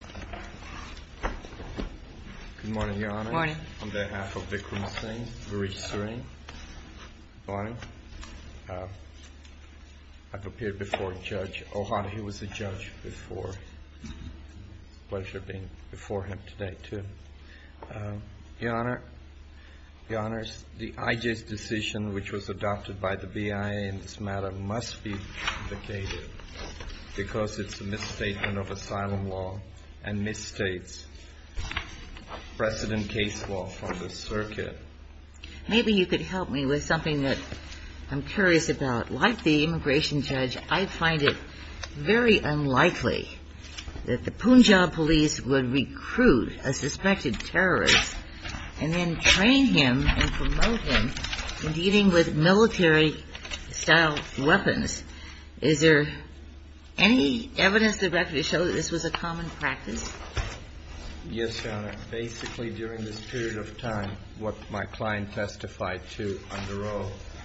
Good morning, Your Honor. Good morning. On behalf of Vikram Singh v. Suri, I've appeared before a judge. Ohana, he was a judge before. It's a pleasure being before him today, too. Your Honor, the IJ's decision, which was adopted by the BIA in this matter, must be vacated because it's a misstatement of asylum law and misstates precedent case law from the circuit. Maybe you could help me with something that I'm curious about. Like the immigration judge, I find it very unlikely that the Punjab police would recruit a suspected terrorist and then train him and promote him in dealing with military-style weapons. Is there any evidence directly to show that this was a common practice? Yes, Your Honor. Basically, during this period of time, what my client testified to under oath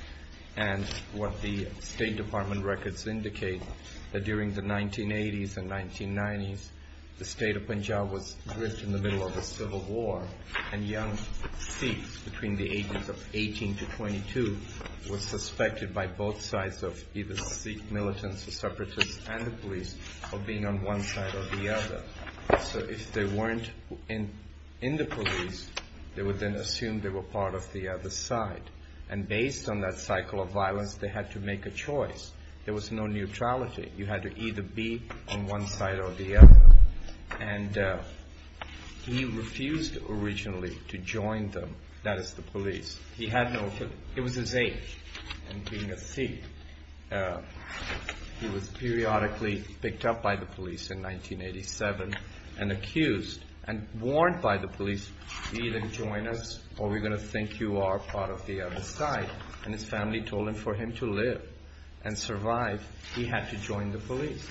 and what the State Department records indicate that during the 1980s and 1990s, the state of Punjab was gripped in the middle of a civil war and young Sikhs between the ages of 18 to 22 were suspected by both sides of either Sikh militants or separatists and the police of being on one side or the other. So if they weren't in the police, they would then assume they were part of the other side. And based on that cycle of violence, they had to make a choice. There was no neutrality. You had to either be on one side or the other. And he refused originally to join them, that is the police. He had no, it was his age and being a Sikh, he was periodically picked up by the police in 1987 and accused and warned by the police, either join us or we're going to think you are part of the other side. And his family told him for him to live and survive, he had to join the police.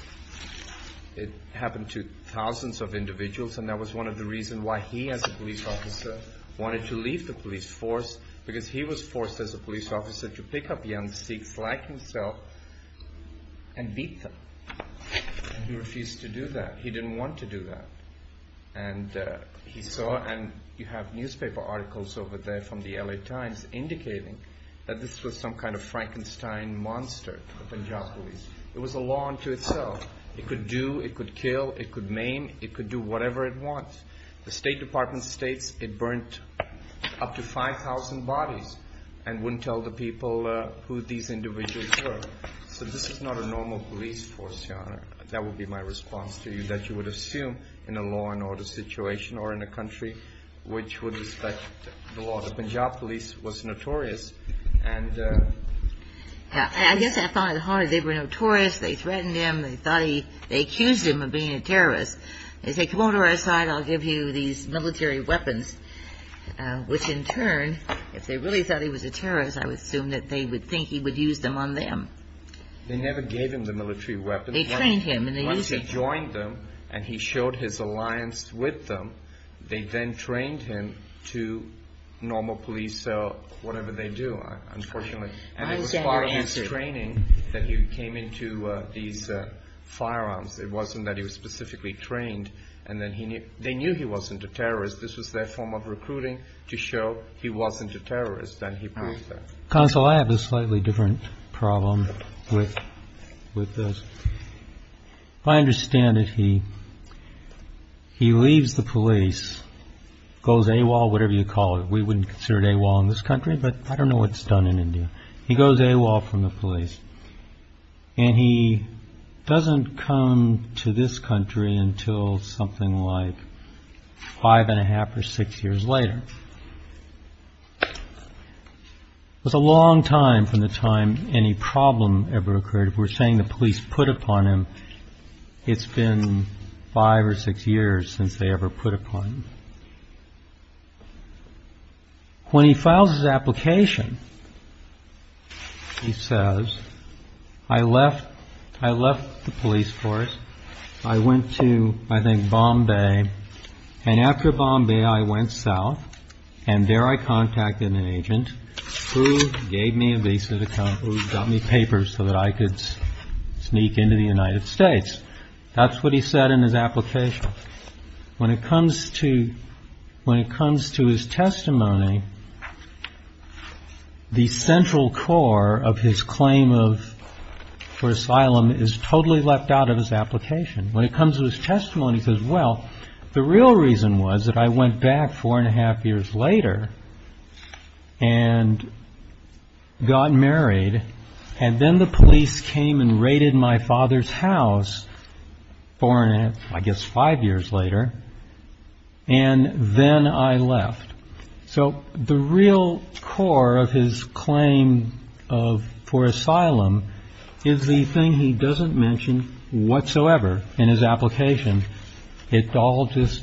It happened to thousands of individuals and that was one of the reasons why he as a police officer wanted to leave the police force because he was forced as a police officer to pick up young Sikhs like himself and beat them. He refused to do that. He didn't want to do that. And he saw, and you have newspaper articles over there from the LA Times indicating that this was some kind of Frankenstein monster, the Punjab police. It was a law unto itself. It could do, it could kill, it could maim, it could do whatever it wants. The State Department states it burnt up to 5,000 bodies and wouldn't tell the people who these individuals were. So this is not a normal police force, Your Honor. That would be my response to you, that you would assume in a law and order situation or in a country which would respect the law. The Punjab police was notorious. And I guess I thought it hard. They were notorious. They threatened him. They thought he, they accused him of being a terrorist. They said, come over to our side, I'll give you these military weapons, which in turn, if they really thought he was a terrorist, I would assume that they would think he would use them on them. They never gave him the military weapons. They trained him and they showed his alliance with them. They then trained him to normal police, whatever they do, unfortunately. And it was part of his training that he came into these firearms. It wasn't that he was specifically trained. And then he knew, they knew he wasn't a terrorist. This was their form of recruiting to show he wasn't a terrorist, that he proved that. Counsel, I have a slightly different problem with this. If I understand it, he leaves the police, goes AWOL, whatever you call it. We wouldn't consider it AWOL in this country, but I don't know what's done in India. He goes AWOL from the police. And he doesn't come to this country until something like five and a half or six years later. It's a long time from the time any problem ever occurred. If we're saying the police put upon him, it's been five or six years since they ever put upon him. When he files his application, he says, I left the police force. I went to, I think, Bombay. And after Bombay, I went south. And there I contacted an agent who gave me a visa to come, who got me papers so that I could sneak into the United States. That's what he said in his application. When it comes to when it comes to his testimony, the central core of his claim for asylum is totally left out of his application. When it comes to his testimony, he says, well, the real reason was that I went back four and a half years later and got married. And then the police came and raided my father's house four and a half, I guess, five years later. And then I left. So the real core of his claim for asylum is the thing he doesn't mention whatsoever in his application. It all just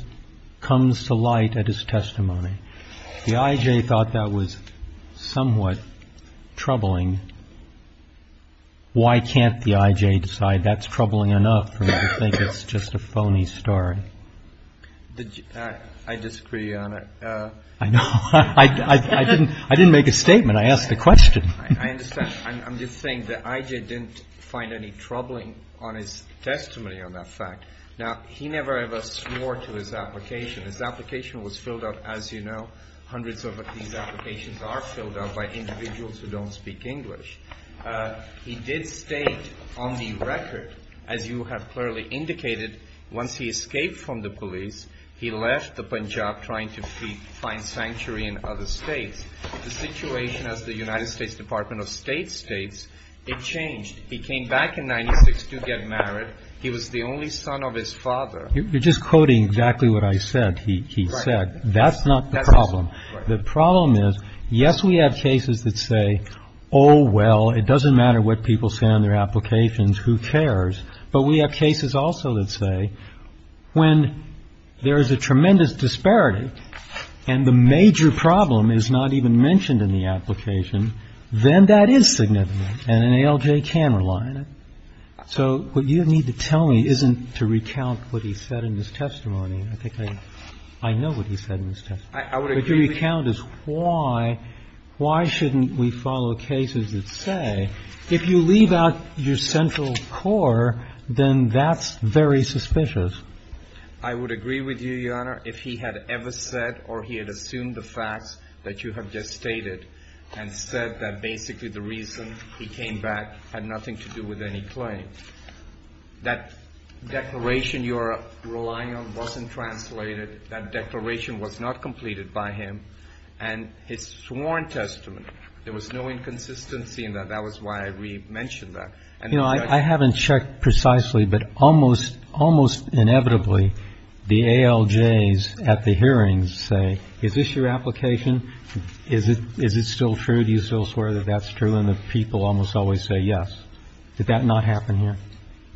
comes to light at his testimony. The IJ thought that was somewhat troubling. Why can't the IJ decide that's troubling enough for me to think it's just a phony story? I disagree, Your Honor. I know. I didn't make a statement. I asked a question. I'm just saying the IJ didn't find any troubling on his testimony on that fact. Now, he never ever swore to his application. His application was filled up, as you know, hundreds of these applications are filled up by individuals who don't speak English. He did state on the record, as you have clearly indicated, once he escaped from the police, he left the Punjab trying to find sanctuary in other states. The situation as the United States Department of State states, it changed. He came back in 96 to get married. He was the only son of his father. You're just quoting exactly what I said. He said that's not the problem. The problem is, yes, we have cases that say, oh, well, it doesn't matter what people say on their applications. Who cares? But we have cases also that say when there is a tremendous disparity and the major problem is not even mentioned in the application, then that is significant, and an ALJ can rely on it. So what you need to tell me isn't to recount what he said in his testimony. I think I know what he said in his testimony. But your recount is why, why shouldn't we follow cases that say if you leave out your central core, then that's very suspicious. I would agree with you, Your Honor, if he had ever said or he had assumed the facts that you have just stated and said that basically the reason he came back had nothing to do with any claim. That declaration you're relying on wasn't translated. That declaration was not completed by him. And his sworn testimony, there was no inconsistency in that. That was why we mentioned that. You know, I haven't checked precisely, but almost, almost inevitably, the ALJs at the hearings say, is this your application? Is it, is it still true? Do you still swear that that's true? And the people almost always say yes. Did that not happen here?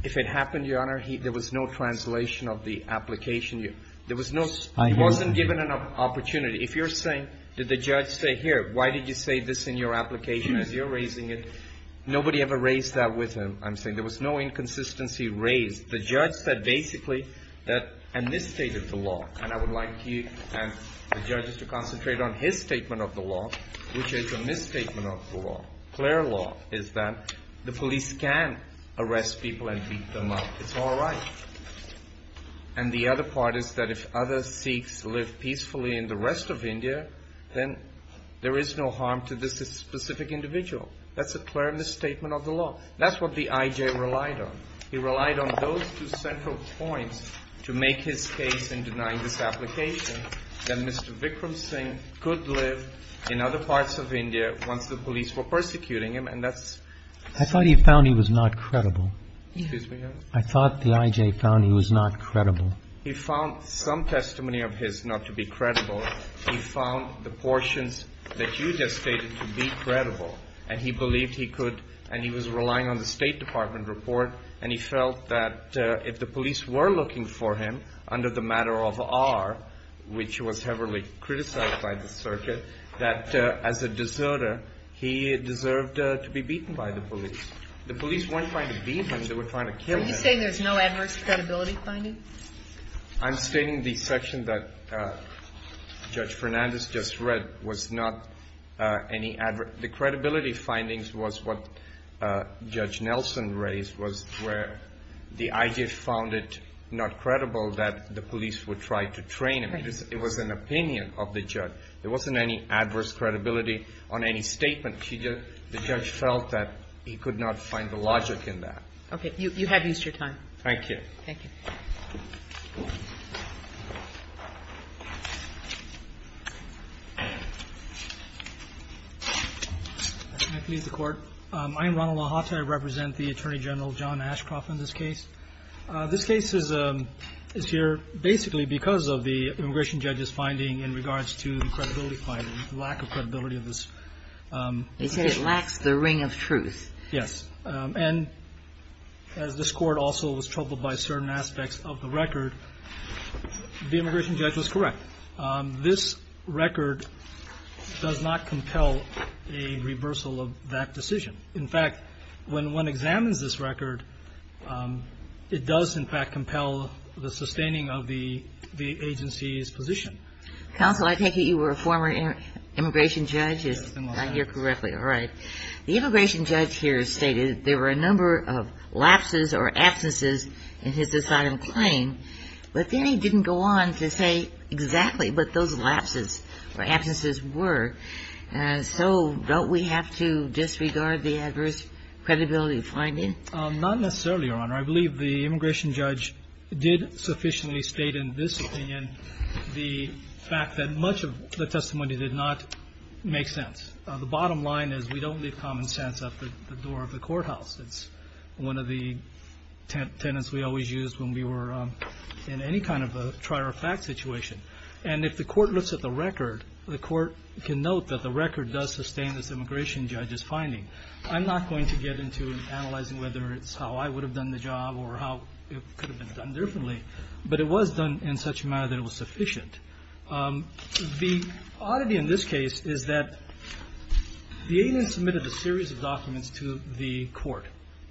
If it happened, Your Honor, there was no translation of the application. There was no, he wasn't given an opportunity. If you're saying, did the judge say, here, why did you say this in your application as you're raising it? Nobody ever raised that with him. I'm saying there was no inconsistency raised. The judge said basically that, and this stated the law. And I would like you and the judges to concentrate on his statement of the law, which is a misstatement of the law. Clear law is that the police can arrest people and beat them up. It's all right. And the other part is that if other Sikhs live peacefully in the rest of India, then there is no harm to this specific individual. That's a clear misstatement of the law. That's what the IJ relied on. He relied on those two central points to make his case in denying this application that Mr. Vikram Singh could live in other parts of India once the police were persecuting him. And that's, I thought he found he was not credible. I thought the IJ found he was not credible. He found some testimony of his not to be credible. He found the portions that you just stated to be credible and he believed he could. And he was relying on the State Department report. And he felt that if the police were looking for him under the matter of R, which was heavily criticized by the circuit, that as a deserter, he deserved to be beaten by the police. The police weren't trying to beat him, they were trying to kill him. Are you saying there's no adverse credibility finding? I'm stating the section that Judge Fernandez just read was not any adverse. The credibility findings was what Judge Nelson raised, was where the IJ found it not credible that the police would try to train him. It was an opinion of the judge. There wasn't any adverse credibility on any statement. The judge felt that he could not find the logic in that. OK, you have used your time. Thank you. Thank you. I'm going to leave the court. I am Ronald LaHotta. I represent the Attorney General, John Ashcroft, in this case. This case is here basically because of the immigration judge's finding in regards to the credibility finding, the lack of credibility of this. They say it lacks the ring of truth. Yes. And as this court also was troubled by certain aspects of the record, the immigration judge was correct. This record does not compel a reversal of that decision. In fact, when one examines this record, it does, in fact, compel the sustaining of the agency's position. Counsel, I take it you were a former immigration judge? If I hear correctly. All right. The immigration judge here stated there were a number of lapses or absences in his assigned claim, but then he didn't go on to say exactly what those lapses or absences were. So don't we have to disregard the adverse credibility finding? Not necessarily, Your Honor. I believe the immigration judge did sufficiently state in this opinion the fact that much of the testimony did not make sense. The bottom line is we don't leave common sense at the door of the courthouse. It's one of the tenets we always used when we were in any kind of a trier of fact situation. And if the court looks at the record, the court can note that the record does sustain this immigration judge's finding. I'm not going to get into analyzing whether it's how I would have done the job or how it could have been done differently. But it was done in such a manner that it was sufficient. The oddity in this case is that the agent submitted a series of documents to the court.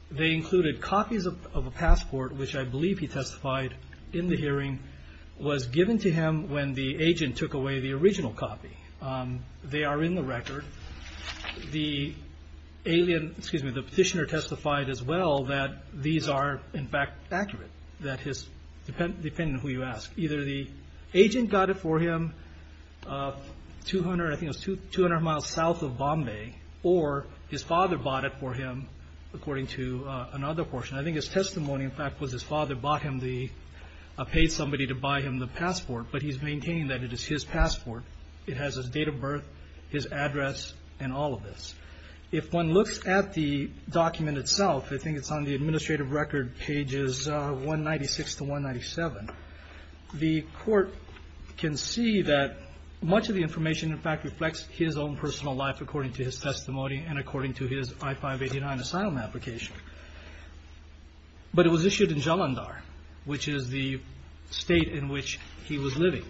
They included copies of a passport, which I believe he testified in the hearing, was given to him when the agent took away the original copy. They are in the record. The petitioner testified as well that these are, in fact, accurate, depending on who you ask. Either the agent got it for him 200, I think it was 200 miles south of Bombay, or his father bought it for him, according to another portion. I think his testimony, in fact, was his father bought him the, paid somebody to buy him the passport. But he's maintained that it is his passport. It has his date of birth, his address, and all of this. If one looks at the document itself, I think it's on the administrative record, pages 196 to 197. The court can see that much of the information, in fact, reflects his own personal life, according to his testimony and according to his I-589 asylum application. But it was issued in Jalandhar, which is the state in which he was living,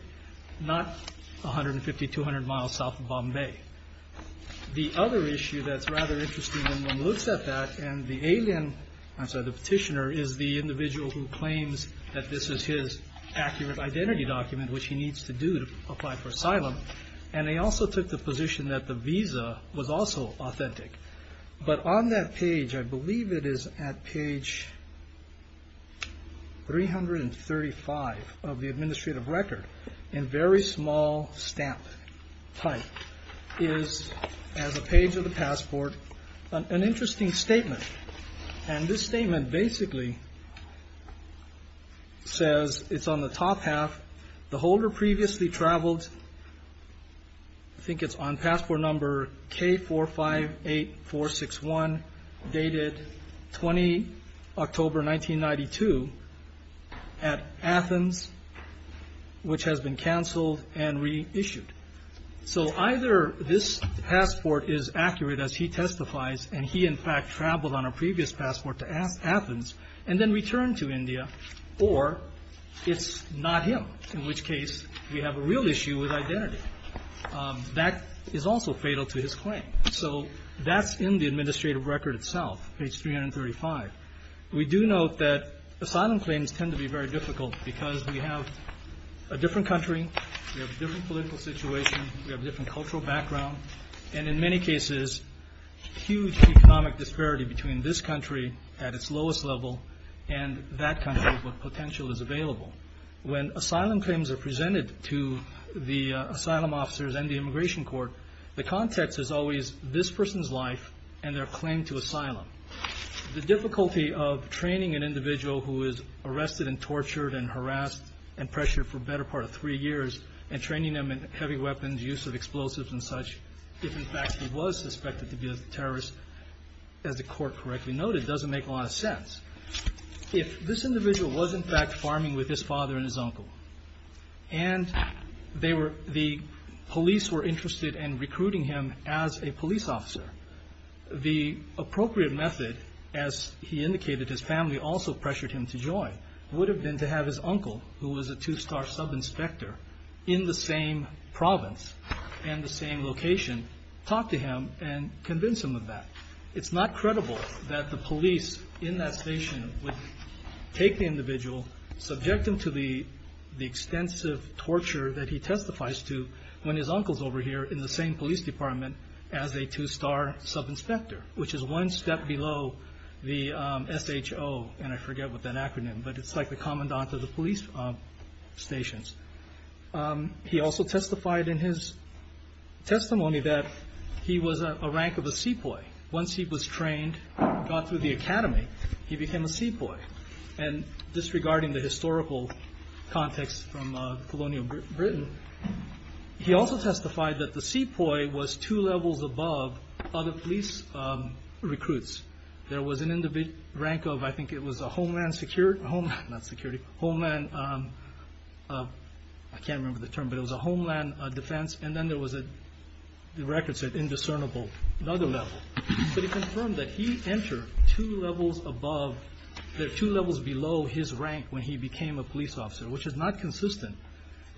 not 150, 200 miles south of Bombay. The other issue that's rather interesting when one looks at that, and the alien, I'm sorry, the petitioner, is the individual who claims that this is his accurate identity document, which he needs to do to apply for asylum. And they also took the position that the visa was also authentic. But on that page, I believe it is at page 335 of the administrative record, in very small stamp type. Is, as a page of the passport, an interesting statement. And this statement basically says, it's on the top half, the holder previously traveled, I think it's on passport number K458461, dated 20 October 1992, at Athens, which has been canceled and reissued. So either this passport is accurate, as he testifies, and he, in fact, traveled on a previous passport to Athens, and then returned to India, or it's not him, in which case we have a real issue with identity. That is also fatal to his claim. So that's in the administrative record itself, page 335. We do note that asylum claims tend to be very difficult, because we have a different country, we have a different political situation, we have a different cultural background, and in many cases, huge economic disparity between this country, at its lowest level, and that country, what potential is available. When asylum claims are presented to the asylum officers and the immigration court, the context is always this person's life, and their claim to asylum. The difficulty of training an individual who is arrested and tortured and harassed and pressured for the better part of three years, and training them in heavy weapons, use of explosives and such, if in fact he was suspected to be a terrorist, as the court correctly noted, doesn't make a lot of sense. If this individual was, in fact, farming with his father and his uncle, and the police were interested in recruiting him as a police officer, the appropriate method, as he indicated, his family also pressured him to join, would have been to have his uncle, who was a two-star sub-inspector, in the same province and the same location, talk to him and convince him of that. It's not credible that the police in that station would take the individual, subject him to the extensive torture that he testifies to when his uncle's over here in the same police department as a two-star sub-inspector, which is one step below the SHO, and I forget what that acronym, but it's like the commandant of the police stations. He also testified in his testimony that he was a rank of a sepoy. Once he was trained, got through the academy, he became a sepoy. And disregarding the historical context from colonial Britain, he also testified that the sepoy was two levels above other police recruits. There was an individual rank of, I think it was a homeland security, homeland, not security, homeland, I can't remember the term, but it was a homeland defense, and then there was a, the record said indiscernible, another level, but he confirmed that he entered two levels above, there are two levels below his rank when he became a police officer, which is not consistent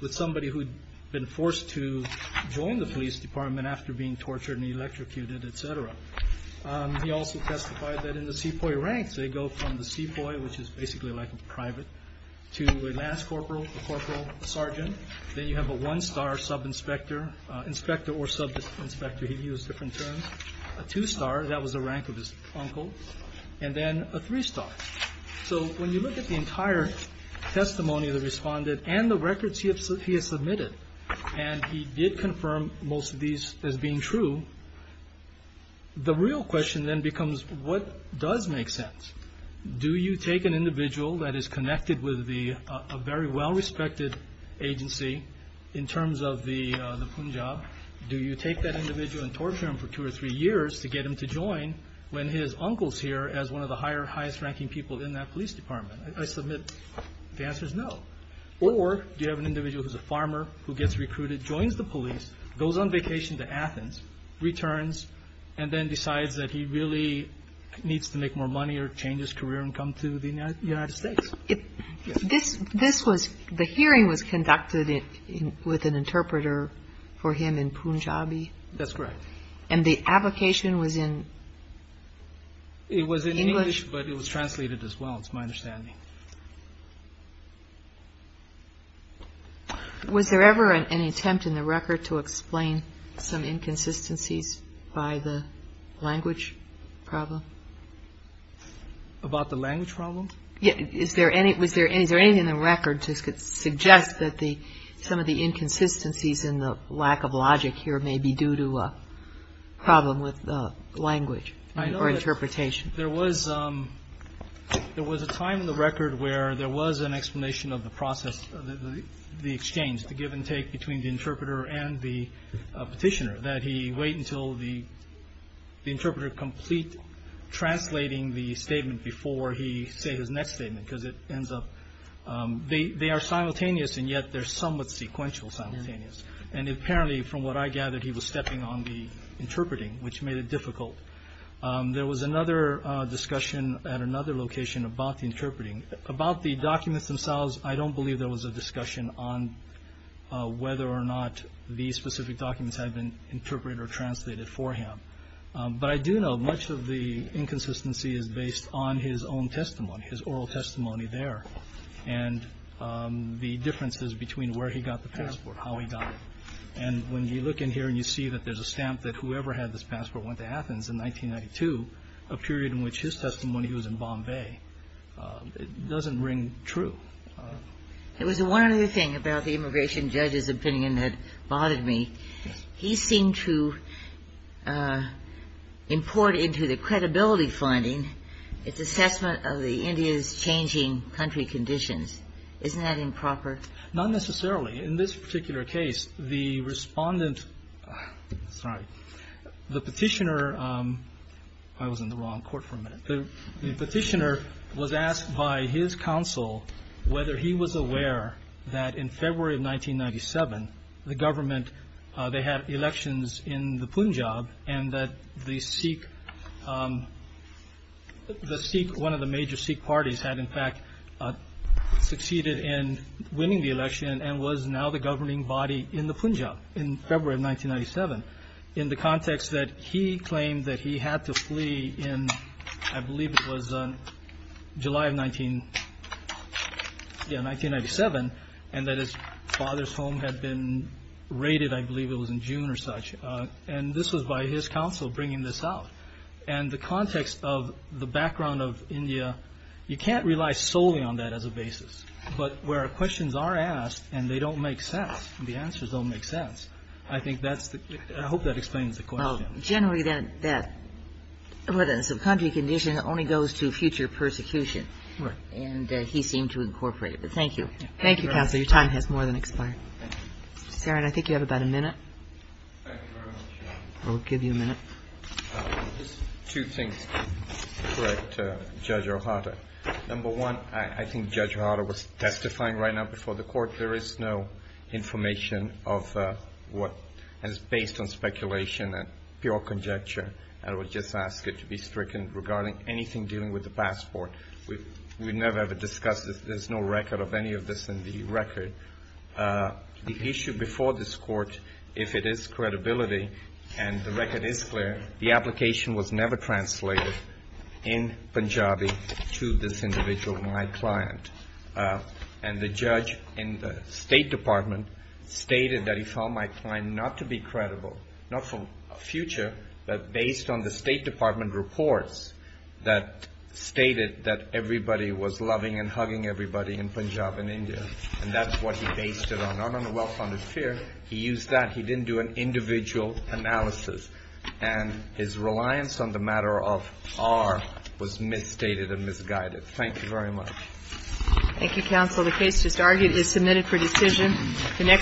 with somebody who had been forced to join the police department after being tortured and electrocuted, et cetera. He also testified that in the sepoy ranks, they go from the sepoy, which is basically like a private, to a last corporal, a corporal, a sergeant, then you have a one-star sub-inspector, inspector or sub-inspector, he used different terms, a two-star, that was the rank of his uncle, and then a three-star. So when you look at the entire testimony of the respondent and the records he has submitted, and he did confirm most of these as being true, the real question then becomes what does make sense, do you take an individual that is connected with a very well-respected agency in terms of the Punjab, do you take that individual and torture him for two or three years to get him to join when his uncle's here as one of the highest ranking police officers in the country? Do you take people in that police department? I submit the answer is no, or do you have an individual who's a farmer, who gets recruited, joins the police, goes on vacation to Athens, returns, and then decides that he really needs to make more money or change his career and come to the United States? This was, the hearing was conducted with an interpreter for him in Punjabi? That's correct. And the abvocation was in? It was in English, but it was translated as well, it's my understanding. Was there ever an attempt in the record to explain some inconsistencies by the language problem? About the language problem? Is there anything in the record to suggest that some of the inconsistencies and the lack of logic here may be due to a problem with language or interpretation? There was a time in the record where there was an explanation of the process, the exchange, the give and take between the interpreter and the petitioner, that he wait until the interpreter complete translating the statement before he say his next statement, because it ends up, they are simultaneous and yet they're somewhat sequential simultaneous. And apparently, from what I gathered, he was stepping on the interpreting, which made it difficult. There was another discussion at another location about the interpreting, about the documents themselves. I don't believe there was a discussion on whether or not the specific documents had been interpreted or translated for him. But I do know much of the inconsistency is based on his own testimony, his oral testimony there, and the differences between where he got the passport, how he got it. And when you look in here and you see that there's a stamp that whoever had this passport went to Athens in 1992, a period in which his testimony was in Bombay, it doesn't ring true. There was one other thing about the immigration judge's opinion that bothered me. He seemed to import into the credibility finding its assessment of the India's changing country conditions. Isn't that improper? Not necessarily. In this particular case, the respondent, sorry, the petitioner, I was in the wrong court for a minute. The petitioner was asked by his counsel whether he was aware that in February of 1997, the government, they had elections in the Punjab and that the Sikh, the Sikh, one of the major Sikh parties had, in fact, succeeded in winning the election and was now the governing body in the Punjab in February of 1997. In the context that he claimed that he had to flee in, I believe it was July of 1997, and that his father's home had been raided, I believe it was in June or such. And this was by his counsel bringing this out. And the context of the background of India, you can't rely solely on that as a basis. But where questions are asked and they don't make sense, the answers don't make sense. I think that's the, I hope that explains the question. Generally, that country condition only goes to future persecution. And he seemed to incorporate it. But thank you. Thank you, counsel. Your time has more than expired. Sharon, I think you have about a minute. I'll give you a minute. Two things to correct Judge O'Hara. Number one, I think Judge O'Hara was testifying right now before the court. There is no information of what is based on speculation and pure conjecture. I would just ask it to be stricken regarding anything dealing with the passport. We would never ever discuss this. There's no record of any of this in the record. The issue before this court, if it is credibility and the record is clear, the application was never translated in Punjabi to this individual, my client. And the judge in the State Department stated that he found my client not to be credible, not from a future, but based on the State Department reports that stated that everybody was loving and hugging everybody in Punjab and India. And that's what he based it on, not on a well-founded fear. He used that. He didn't do an individual analysis. And his reliance on the matter of R was misstated and misguided. Thank you very much. Thank you, counsel. The case just argued is submitted for decision. The next.